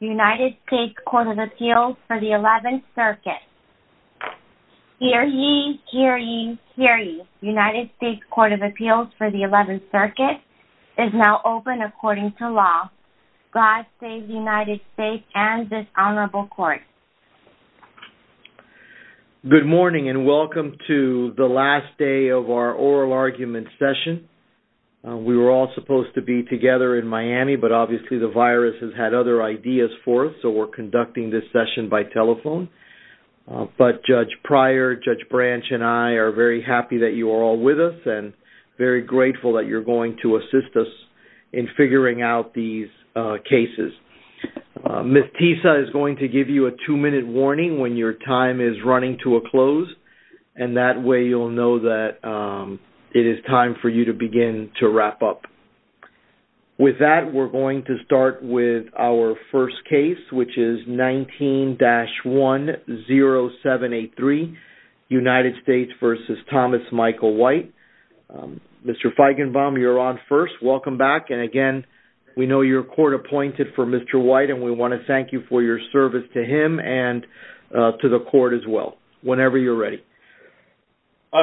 United States Court of Appeals for the 11th Circuit. Hear ye, hear ye, hear ye. United States Court of Appeals for the 11th Circuit is now open according to law. God save the United States and this Honorable Court. Good morning and welcome to the last day of our oral argument session. We were all supposed to be together in Miami but obviously the virus has had other ideas for us so we're conducting this session by telephone. But Judge Pryor, Judge Branch and I are very happy that you are all with us and very grateful that you're going to assist us in figuring out these cases. Ms. Tisa is going to give you a two-minute warning when your time is running to a close and that way you'll know that it is time for you to begin to wrap up. With that we're going to start with our first case which is 19-10783 United States v. Thomas Michael White. Mr. Feigenbaum, you're on first. Welcome back and again we know your court appointed for Mr. White and we want to thank you for your service to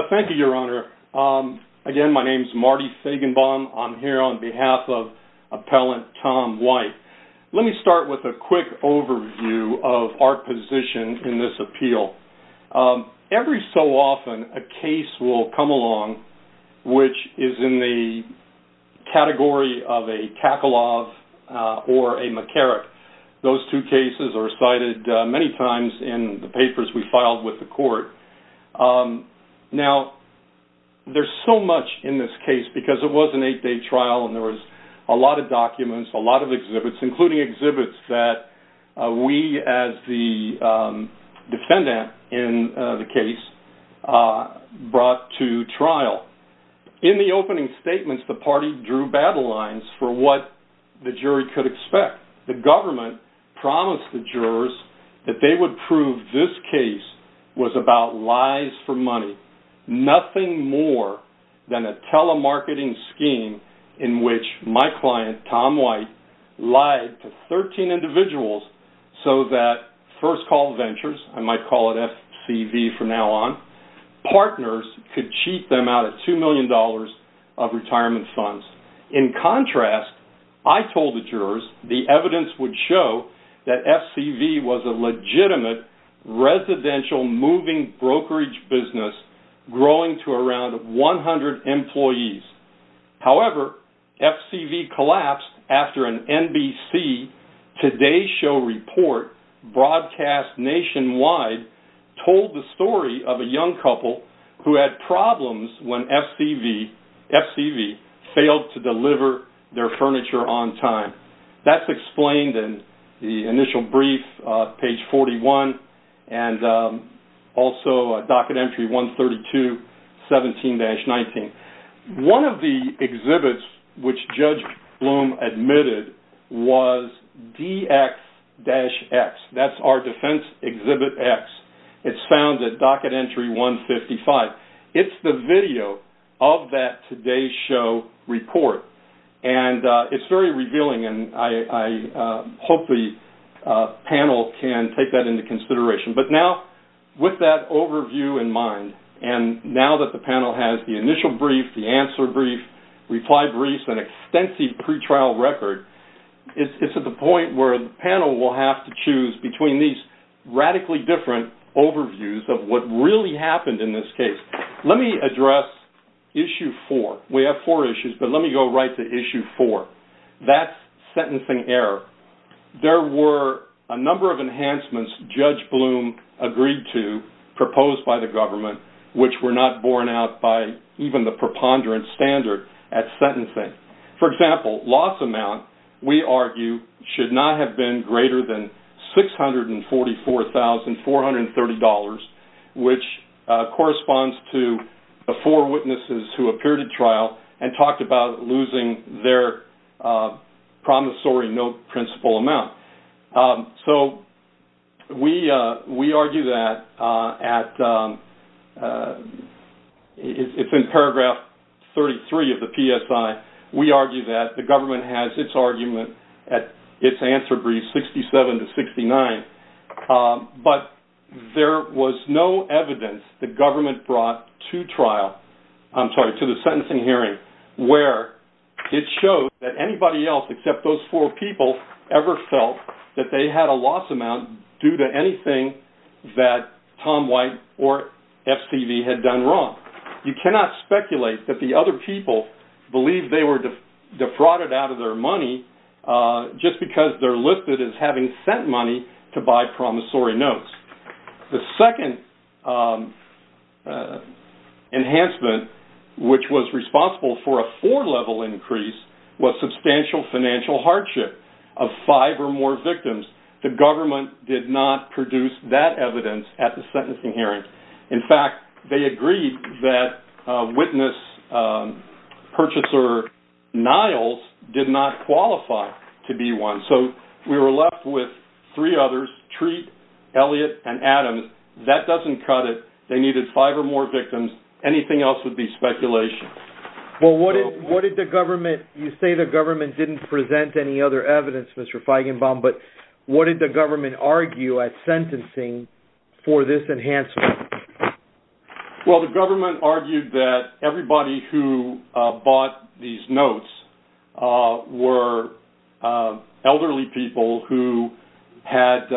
Thank you, Your Honor. Again, my name is Marty Feigenbaum. I'm here on behalf of Appellant Tom White. Let me start with a quick overview of our position in this appeal. Every so often a case will come along which is in the category of a Kakalov or a McCarrick. Those two cases are cited many times in the papers we There's so much in this case because it was an eight-day trial and there was a lot of documents, a lot of exhibits, including exhibits that we as the defendant in the case brought to trial. In the opening statements the party drew battle lines for what the jury could expect. The government promised the nothing more than a telemarketing scheme in which my client, Tom White, lied to 13 individuals so that First Call Ventures, I might call it FCV from now on, partners could cheat them out of two million dollars of retirement funds. In contrast, I told the jurors the evidence would show that FCV was a legitimate residential moving brokerage business growing to around 100 employees. However, FCV collapsed after an NBC Today Show report broadcast nationwide told the story of a young couple who had problems when FCV failed to deliver their furniture on time. That's explained in the initial brief, page 41, and also Docket Entry 132, 17-19. One of the exhibits which Judge Bloom admitted was DX-X. That's our defense exhibit X. It's found at Docket Entry 155. It's the very revealing and I hope the panel can take that into consideration. But now, with that overview in mind, and now that the panel has the initial brief, the answer brief, reply brief, and extensive pretrial record, it's at the point where the panel will have to choose between these radically different overviews of what really happened in this case. Let me address issue four. We have four issues, but let me go right to issue four. That's sentencing error. There were a number of enhancements Judge Bloom agreed to, proposed by the government, which were not borne out by even the preponderant standard at sentencing. For example, loss amount, we argue, should not have been greater than $644,430, which corresponds to the four witnesses who appeared at trial and talked about losing their promissory note principal amount. So we argue that at, it's in paragraph 33 of the PSI, we argue that the government has its argument at its There was no evidence the government brought to trial, I'm sorry, to the sentencing hearing, where it shows that anybody else except those four people ever felt that they had a loss amount due to anything that Tom White or FTV had done wrong. You cannot speculate that the other people believe they were defrauded out of their money just because they're listed as having sent money to buy promissory notes. The second enhancement, which was responsible for a four-level increase, was substantial financial hardship of five or more victims. The government did not produce that evidence at the sentencing hearing. In fact, they agreed that witness purchaser Niles did not qualify to be one. So we were left with three others, Treat, Elliott, and Adams. That doesn't cut it. They needed five or more victims. Anything else would be speculation. Well, what did the government, you say the government didn't present any other evidence, Mr. Feigenbaum, but what did the government argue at sentencing for this enhancement? Well, the government argued that everybody who bought these notes were elderly people who had,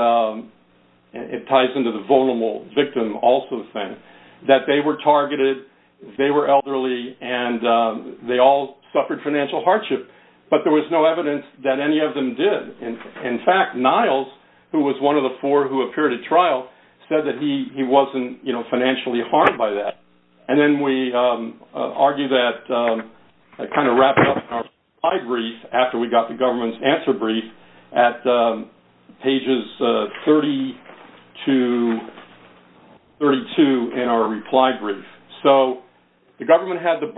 it ties into the vulnerable victim also thing, that they were targeted, they were elderly, and they all suffered financial hardship. But there was no evidence that any of them did. In fact, Niles, who was one of the four who appeared at trial, said that he wasn't, you know, financially harmed by that. And then we argue that it kind of wraps up in our reply brief after we got the government's answer brief at pages 30 to 32 in our reply brief. So the government had the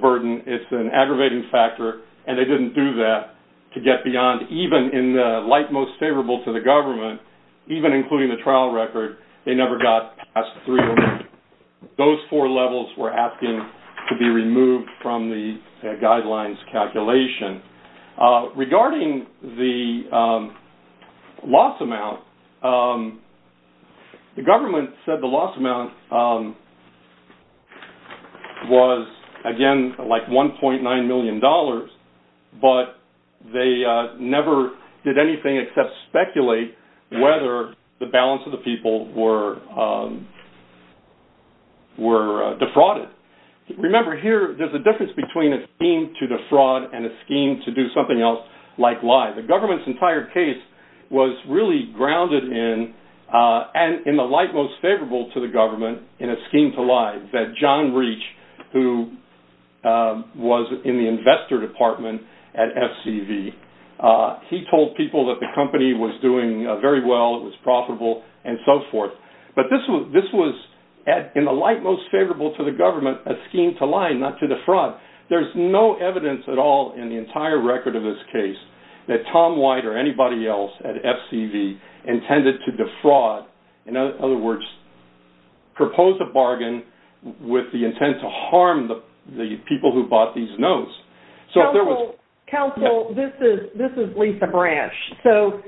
burden, it's an aggravating factor, and they didn't do that to get beyond, even in the light most favorable to the government, even those four levels were asking to be removed from the guidelines calculation. Regarding the loss amount, the government said the loss amount was, again, like 1.9 million dollars, but they never did anything except speculate whether the balance of the people were defrauded. Remember here, there's a difference between a scheme to defraud and a scheme to do something else, like lie. The government's entire case was really grounded in, and in the light most favorable to the government, in a scheme to lie, that John Reach, who was in the investor department at SCV, he told people that the company was doing very well, it was profitable, and so forth. But this was, in the light most favorable to the government, a scheme to lie, not to defraud. There's no evidence at all in the entire record of this case that Tom White or anybody else at SCV intended to defraud, in other words, propose a bargain with the intent to harm the people who bought these notes. Counsel, this is Lisa Branch. So,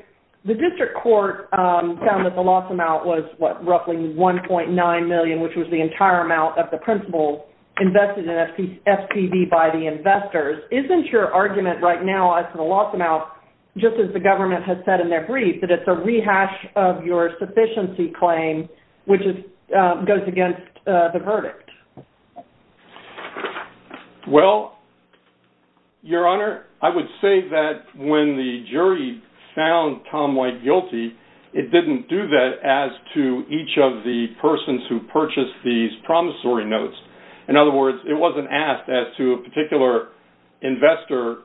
the district court found that the loss amount was, what, roughly 1.9 million, which was the entire amount of the principal invested in SCV by the investors. Isn't your argument right now as to the loss amount, just as the government has said in their brief, that it's a rehash of your sufficiency claim, which goes against the verdict? Well, Your Honor, I would say that when the jury found Tom White guilty, it didn't do that as to each of the persons who purchased these promissory notes. In other words, it wasn't asked as to a particular investor,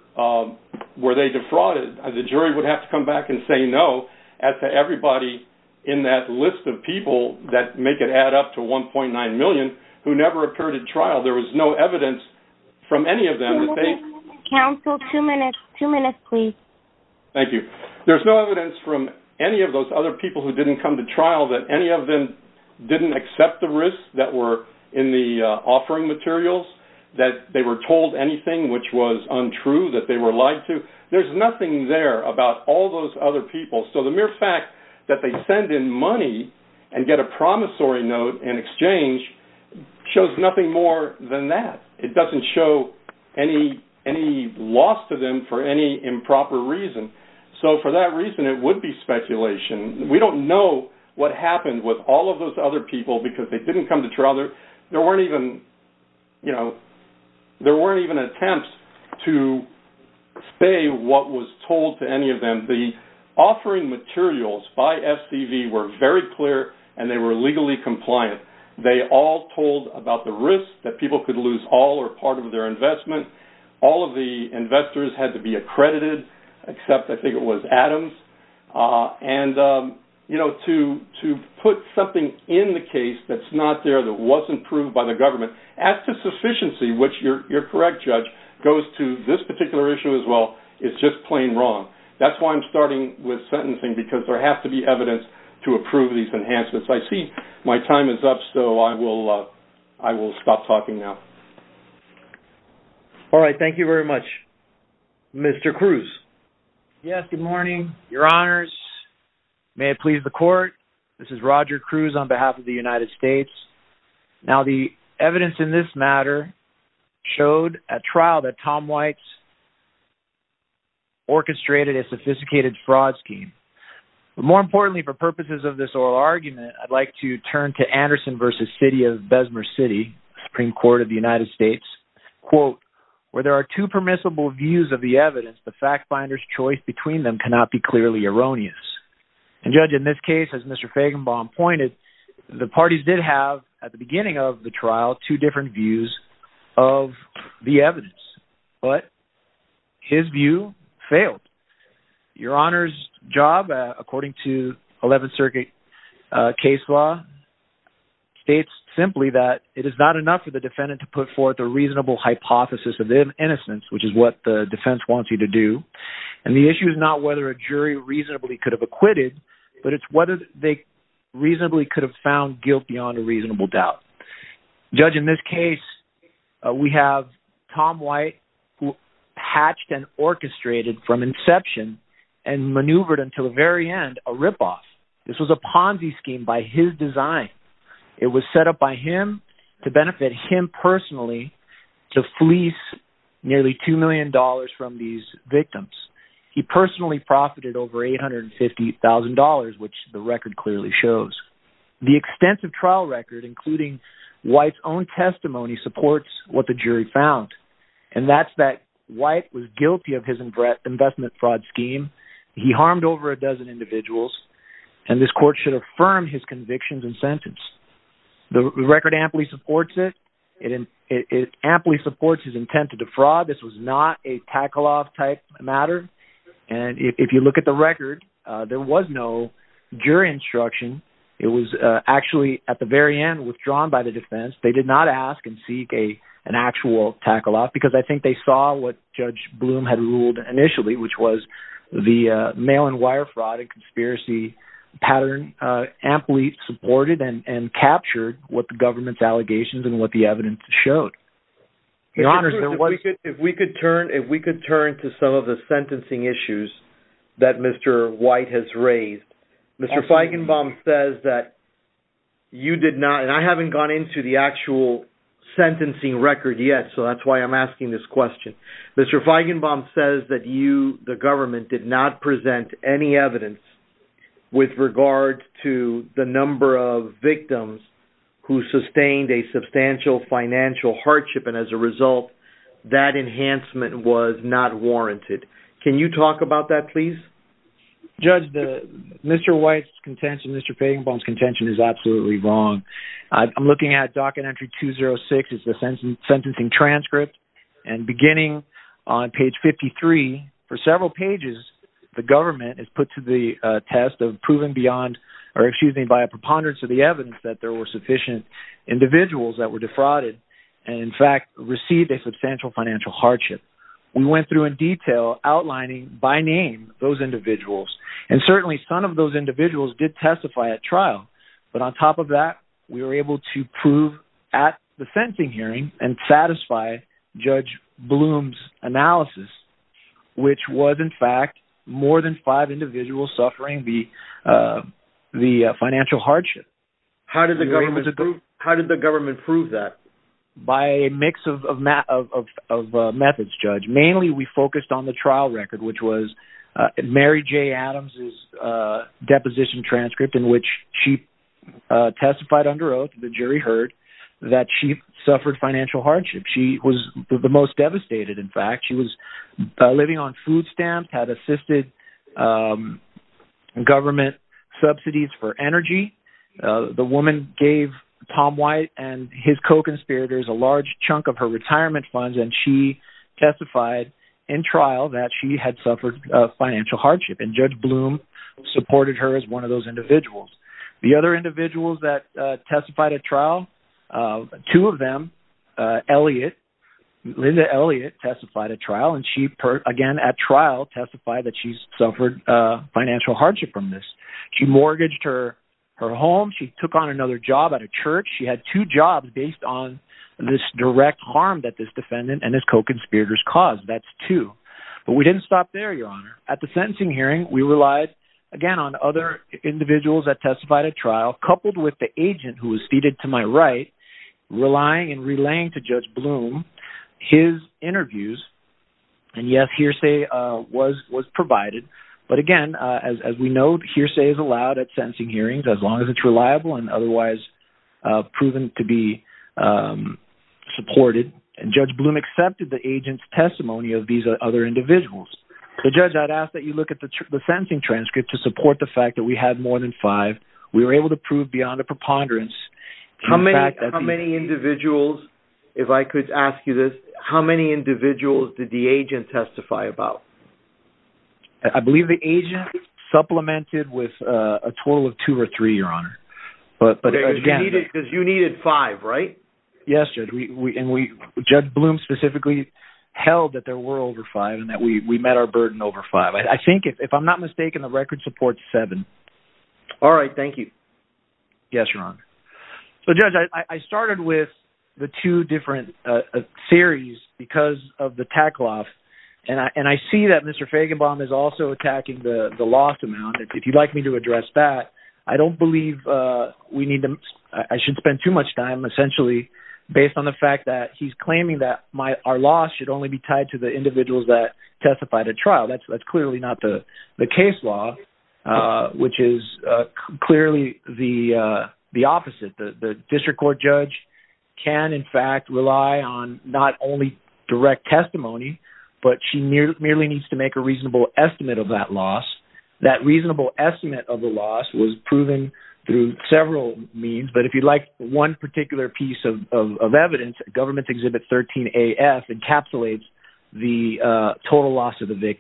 were they defrauded. The jury would have to come back and say no, as to everybody in that list of 1.9 million who never appeared in trial. There was no evidence from any of them. Counsel, two minutes, two minutes, please. Thank you. There's no evidence from any of those other people who didn't come to trial that any of them didn't accept the risks that were in the offering materials, that they were told anything which was untrue, that they were lied to. There's nothing there about all those other people. So, the mere fact that they send in money and get a promissory note in exchange shows nothing more than that. It doesn't show any loss to them for any improper reason. So, for that reason, it would be speculation. We don't know what happened with all of those other people because they didn't come to trial. There weren't even, you know, there weren't even attempts to say what was told to any of them. The offering materials by SCV were very clear and they were legally compliant. They all told about the risk that people could lose all or part of their investment. All of the investors had to be accredited, except I think it was Adams. And, you know, to put something in the case that's not there, that wasn't proved by the government, as to sufficiency, which you're correct, Judge, goes to this particular issue as well, it's just plain wrong. That's why I'm starting with sentencing because there has to be enhancements. I see my time is up, so I will I will stop talking now. All right, thank you very much. Mr. Cruz. Yes, good morning, Your Honors. May it please the court, this is Roger Cruz on behalf of the United States. Now, the evidence in this matter showed at trial that Tom White's orchestrated a sophisticated fraud scheme. More importantly, for purposes of this oral argument, I'd like to turn to Anderson v. City of Bessemer City, Supreme Court of the United States, quote, where there are two permissible views of the evidence, the fact finder's choice between them cannot be clearly erroneous. And, Judge, in this case, as Mr. Fagenbaum pointed, the parties did have, at the beginning of the honor's job, according to 11th Circuit case law, states simply that it is not enough for the defendant to put forth a reasonable hypothesis of innocence, which is what the defense wants you to do. And the issue is not whether a jury reasonably could have acquitted, but it's whether they reasonably could have found guilt beyond a reasonable doubt. Judge, in this case, we have Tom White, who maneuvered, until the very end, a ripoff. This was a Ponzi scheme by his design. It was set up by him to benefit him personally to fleece nearly two million dollars from these victims. He personally profited over $850,000, which the record clearly shows. The extensive trial record, including White's own testimony, supports what the jury found, and that's that White was guilty of his investment fraud scheme. He harmed over a dozen individuals, and this court should affirm his convictions and sentence. The record amply supports it. It amply supports his intent to defraud. This was not a tackle-off type matter, and if you look at the record, there was no jury instruction. It was actually, at the very end, withdrawn by the defense. They did not ask and seek an actual tackle-off, because I think they saw what Judge Bloom had ruled initially, which was the mail-and-wire fraud and conspiracy pattern, amply supported and captured what the government's allegations and what the evidence showed. If we could turn to some of the sentencing issues that Mr. White has raised, Mr. Feigenbaum says that you did not, and I haven't gone into the actual questions, but I'm asking this question. Mr. Feigenbaum says that you, the government, did not present any evidence with regard to the number of victims who sustained a substantial financial hardship, and as a result, that enhancement was not warranted. Can you talk about that, please? Judge, Mr. White's contention, Mr. Feigenbaum's contention, is absolutely wrong. I'm looking at docket entry 206. It's the sentencing transcript, and beginning on page 53, for several pages, the government is put to the test of proving beyond, or excuse me, by a preponderance of the evidence that there were sufficient individuals that were defrauded, and in fact, received a substantial financial hardship. We went through in detail, outlining by name, those individuals, and certainly some of those individuals did testify at trial, but on top of that, we were able to prove at the sentencing hearing, and satisfy Judge Bloom's analysis, which was in fact more than five individuals suffering the financial hardship. How did the government prove that? By a mix of methods, Judge. Mainly, we focused on the trial record, which was Mary J. Adams's deposition transcript, in that she suffered financial hardship. She was the most devastated, in fact. She was living on food stamps, had assisted government subsidies for energy. The woman gave Tom White and his co-conspirators a large chunk of her retirement funds, and she testified in trial that she had suffered financial hardship, and Judge Bloom supported her as one of those individuals. The other two of them, Linda Elliot, testified at trial, and she, again, at trial testified that she's suffered financial hardship from this. She mortgaged her home, she took on another job at a church, she had two jobs based on this direct harm that this defendant and his co-conspirators caused. That's two, but we didn't stop there, Your Honor. At the sentencing hearing, we relied, again, on other individuals that testified at trial, coupled with the agent who was seated to my right, relying and relaying to Judge Bloom his interviews, and yes, hearsay was provided, but again, as we know, hearsay is allowed at sentencing hearings, as long as it's reliable and otherwise proven to be supported, and Judge Bloom accepted the agent's testimony of these other individuals. So, Judge, I'd ask that you look at the sentencing transcript to support the fact that we had more than five. We were able to prove beyond a How many individuals, if I could ask you this, how many individuals did the agent testify about? I believe the agent supplemented with a total of two or three, Your Honor, but again... Because you needed five, right? Yes, Judge, and Judge Bloom specifically held that there were over five and that we met our burden over five. I think, if I'm not mistaken, the record supports seven. All right, thank you. Yes, Your Honor. So, Judge, I started with the two different theories because of the Takloff, and I see that Mr. Fagenbaum is also attacking the lost amount. If you'd like me to address that, I don't believe we need to... I should spend too much time, essentially, based on the fact that he's claiming that our loss should only be tied to the individuals that testified at trial. That's clearly not the case law, which is clearly the opposite. The district court judge can, in fact, rely on not only direct testimony, but she merely needs to make a reasonable estimate of that loss. That reasonable estimate of the loss was proven through several means, but if you'd like one particular piece of evidence, Government Exhibit 13-AF encapsulates the total loss of the case.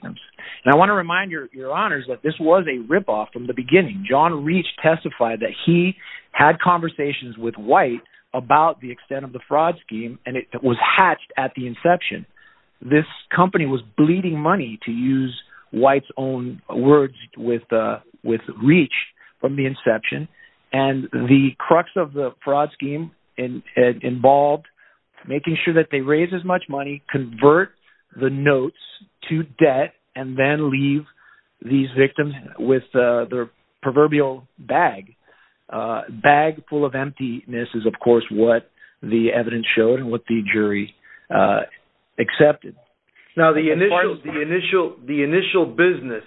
I want to remind Your Honors that this was a rip-off from the beginning. John Reach testified that he had conversations with White about the extent of the fraud scheme, and it was hatched at the inception. This company was bleeding money, to use White's own words, with Reach from the inception, and the crux of the fraud scheme involved making sure that they raise as much money as they could and then leave these victims with their proverbial bag. Bag full of emptiness is, of course, what the evidence showed and what the jury accepted. Now, the initial business,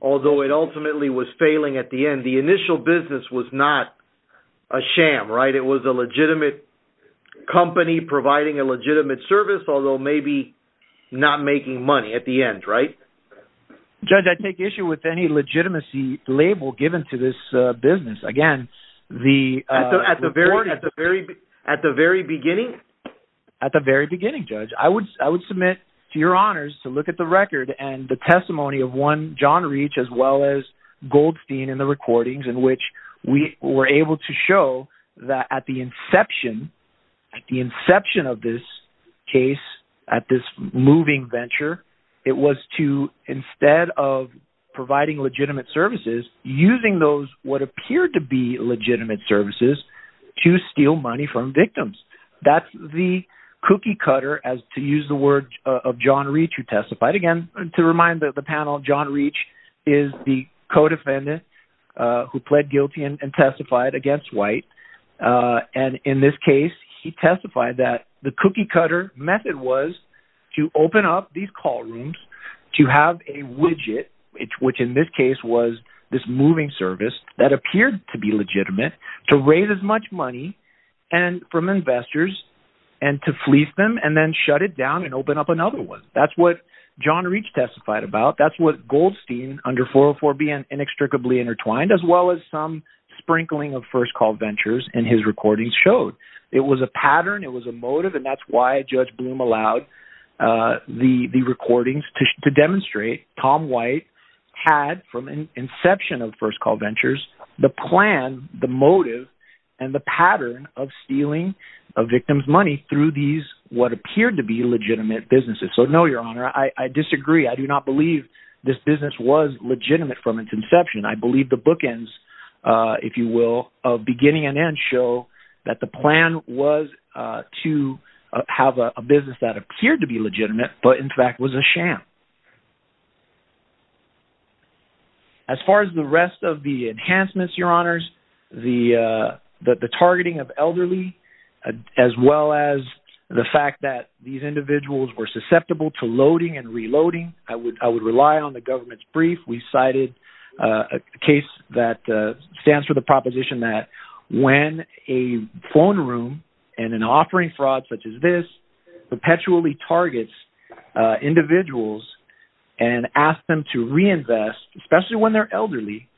although it ultimately was failing at the end, the initial business was not a sham, right? It was a legitimate company providing a legitimate service, although maybe not making money at the end, right? Judge, I take issue with any legitimacy label given to this business. Again, at the very beginning? At the very beginning, Judge. I would submit to Your Honors to look at the record and the testimony of one John Reach, as well as Goldstein in the recordings, in which we were able to show that at the inception, at the inception of this case, at this moving venture, it was to, instead of providing legitimate services, using those what appeared to be legitimate services to steal money from victims. That's the cookie-cutter, as to use the words of John Reach, who testified. Again, to remind the panel, John Reach is the co-defendant who pled guilty and testified against White, and in this case, he testified that the cookie-cutter method was to open up these call rooms to have a widget, which in this case was this moving service, that appeared to be legitimate, to raise as much money from investors, and to fleece them, and then shut it down and open up another one. That's what John Reach testified about. That's what Goldstein, under 404B, and inextricably intertwined, as well as some sprinkling of first-call ventures in his recordings showed. It was a pattern, it was a motive, and that's why Judge Bloom allowed the recordings to demonstrate Tom White had, from an inception of first-call ventures, the plan, the motive, and the pattern of stealing a victim's money through these what appeared to be legitimate businesses. So no, Your Honor, I disagree. I do not believe this business was legitimate from its inception. I believe the bookends, if you will, of beginning and end, show that the plan was to have a business that appeared to be legitimate, but in fact was a sham. As far as the rest of the enhancements, Your Honors, the targeting of elderly, as well as the fact that these individuals were susceptible to loading and reloading, I would rely on the government's brief. We cited a case that stands for the proposition that when a phone room and an offering fraud such as this perpetually targets individuals and asks them to reinvest, especially when they're elderly,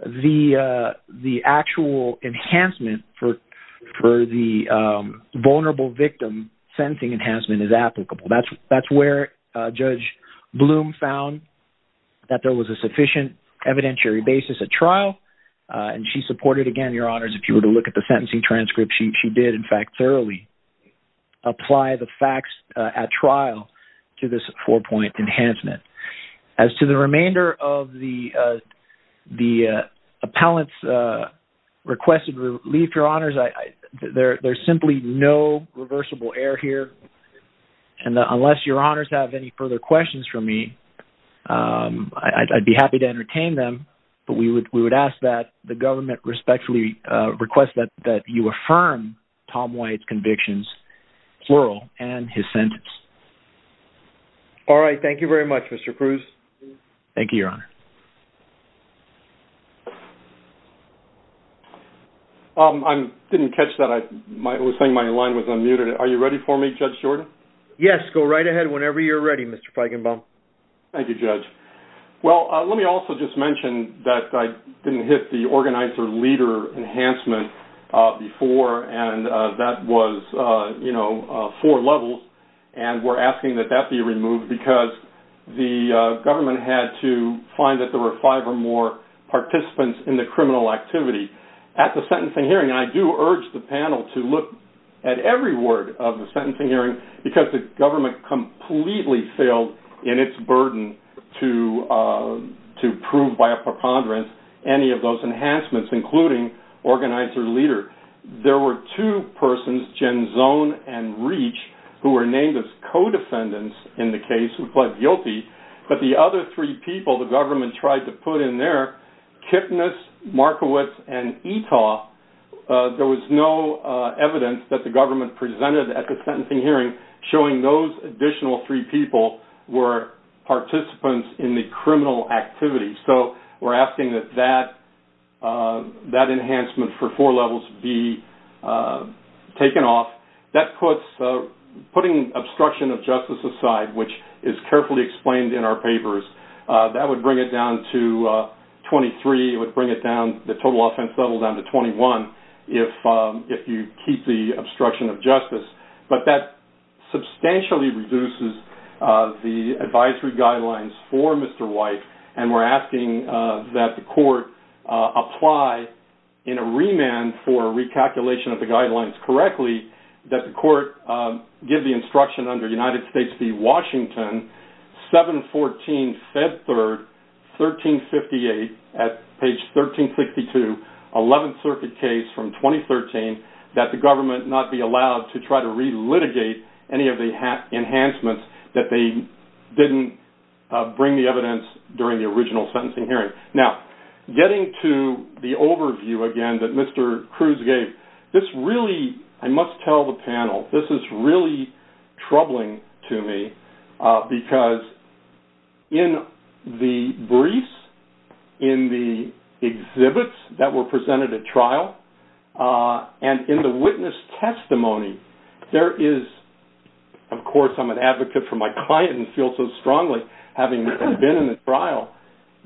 the actual enhancement for the vulnerable victim sentencing enhancement is applicable. That's where Judge Bloom found that there was a sufficient evidentiary basis at trial, and she supported, again, Your Honors, if you were to look at the sentencing transcript, she did, in fact, thoroughly apply the facts at trial to this four-point enhancement. As to the remainder of the appellant's requested relief, Your Honors, there's simply no reversible error here, and unless Your Honors have any further questions for me, I'd be happy to entertain them, but we would ask that the government respectfully request that you affirm Tom White's convictions plural and his sentence. All right, thank you very much, Mr. Cruz. Thank you, Your Honor. I didn't catch that. I was saying my line was unmuted. Are you ready for me, Judge Jordan? Yes, go right ahead whenever you're ready, Mr. Feigenbaum. Thank you, Judge. Well, let me also just mention that I didn't hit the organizer leader enhancement before, and that was, you know, four levels, and we're asking that that be removed because the government had to find that there were five or more participants in the criminal activity at the sentencing hearing because the government completely failed in its burden to prove by a preponderance any of those enhancements, including organizer leader. There were two persons, Genzone and Reach, who were named as co-defendants in the case who pled guilty, but the other three people the government tried to put in there, Kipnis, Markowitz, and Itaw, there was no evidence that the government presented at the sentencing hearing showing those additional three people were participants in the criminal activity. So we're asking that that enhancement for four levels be taken off. That puts putting obstruction of justice aside, which is carefully explained in our papers, that would bring it down to 23. It would bring it down, the total offense level, down to 21 if you keep the obstruction of justice, but that substantially reduces the advisory guidelines for Mr. White, and we're asking that the court apply in a remand for recalculation of the guidelines correctly that the court give the instruction under United States v. Washington, 714, Feb 3rd, 1358, at page 1362, 11th Circuit case from 2013, that the government not be allowed to try to relitigate any of the enhancements that they didn't bring the evidence during the original sentencing hearing. Now, getting to the overview again that Mr. Cruz gave, this really, I must tell the panel, this is really troubling to me because in the briefs, in the exhibits that were presented at trial, and in the witness testimony, there is, of course I'm an advocate for my client and feel so strongly having been in the trial,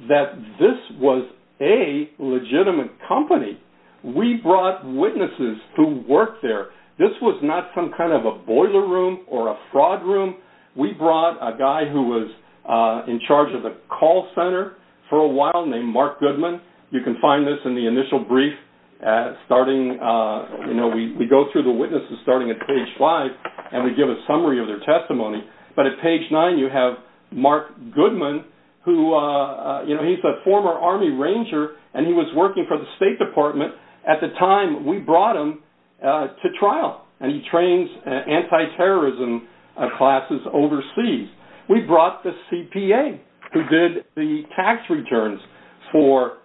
that this was a legitimate company. We brought witnesses who worked there. This was not some kind of a boiler room or a fraud room. We brought a guy who was in charge of the call center for a while named Mark Goodman. You can find this in the initial brief starting, you know, we go through the witnesses starting at page five and we give a summary of their testimony, but at page nine you have Mark Goodman who, you know, he's a former Army Ranger and he was working for the State Department at the time we brought him to classes overseas. We brought the CPA who did the tax returns for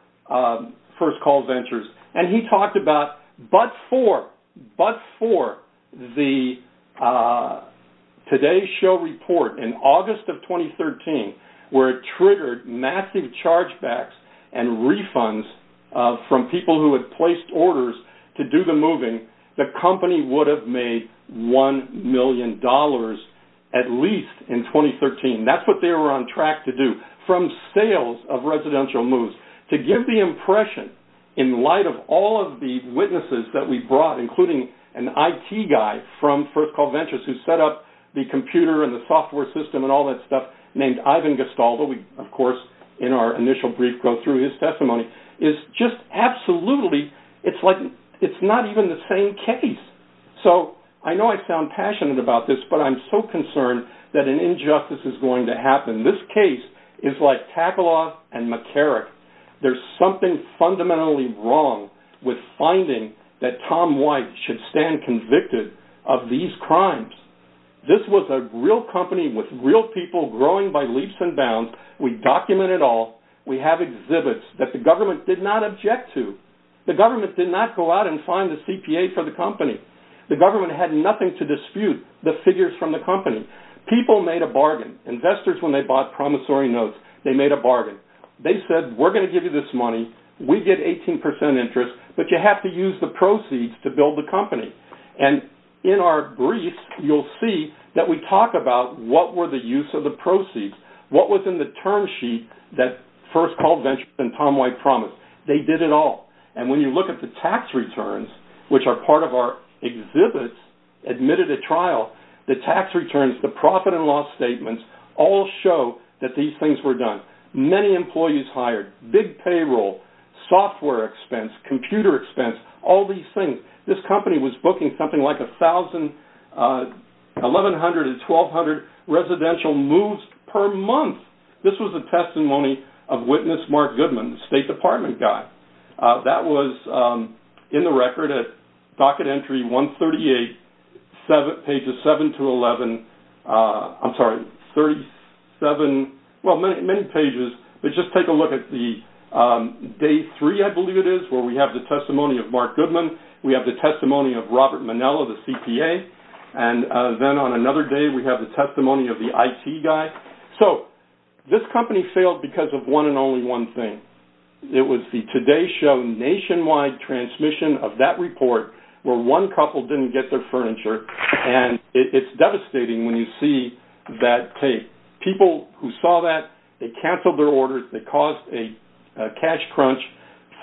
First Call Ventures and he talked about but for, but for the Today Show report in August of 2013, where it triggered massive chargebacks and refunds from people who had placed orders to do the moving, the company would have made one million dollars at least in 2013. That's what they were on track to do, from sales of residential moves. To give the impression in light of all of the witnesses that we brought, including an IT guy from First Call Ventures who set up the computer and the software system and all that stuff, named Ivan Gestaldo, we of course in our initial brief go through his testimony, is just absolutely, it's like, it's not even the same case. So I know I sound passionate about this, but I'm so concerned that an injustice is going to happen. This case is like Takaloff and McCarrick. There's something fundamentally wrong with finding that Tom White should stand convicted of these crimes. This was a real company with real people growing by leaps and bounds. We document it all. We have exhibits that the government did not object to. The government did not go out and find the CPA for the company. The government had nothing to dispute the figures from the company. People made a bargain. Investors, when they bought promissory notes, they made a bargain. They said, we're going to give you this money, we get 18% interest, but you have to use the proceeds to build the company. And in our brief, you'll see that we talk about what were the use of the proceeds, what was in the term sheet that First they did it all. And when you look at the tax returns, which are part of our exhibits, admitted at trial, the tax returns, the profit and loss statements, all show that these things were done. Many employees hired, big payroll, software expense, computer expense, all these things. This company was booking something like 1,100 and 1,200 residential moves per month. This was a that was in the record at docket entry 138, pages 7 to 11. I'm sorry, 37, well, many pages. But just take a look at the day three, I believe it is, where we have the testimony of Mark Goodman. We have the testimony of Robert Manello, the CPA. And then on another day, we have the testimony of the IT guy. So this company failed because of one and only one thing. It was the Today Show nationwide transmission of that report, where one couple didn't get their furniture. And it's devastating when you see that tape. People who saw that, they canceled their orders, they caused a cash crunch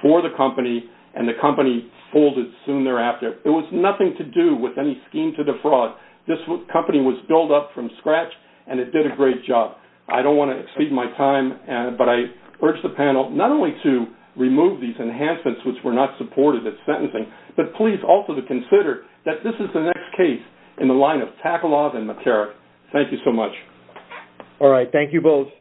for the company, and the company folded soon thereafter. It was nothing to do with any scheme to defraud. This company was built up from scratch, and it did a great job. I don't want to exceed my time, but I urge the panel not only to remove these enhancements, which were not supported at sentencing, but please also to consider that this is the next case in the line of Takalov and Matera. Thank you so much. All right, thank you both.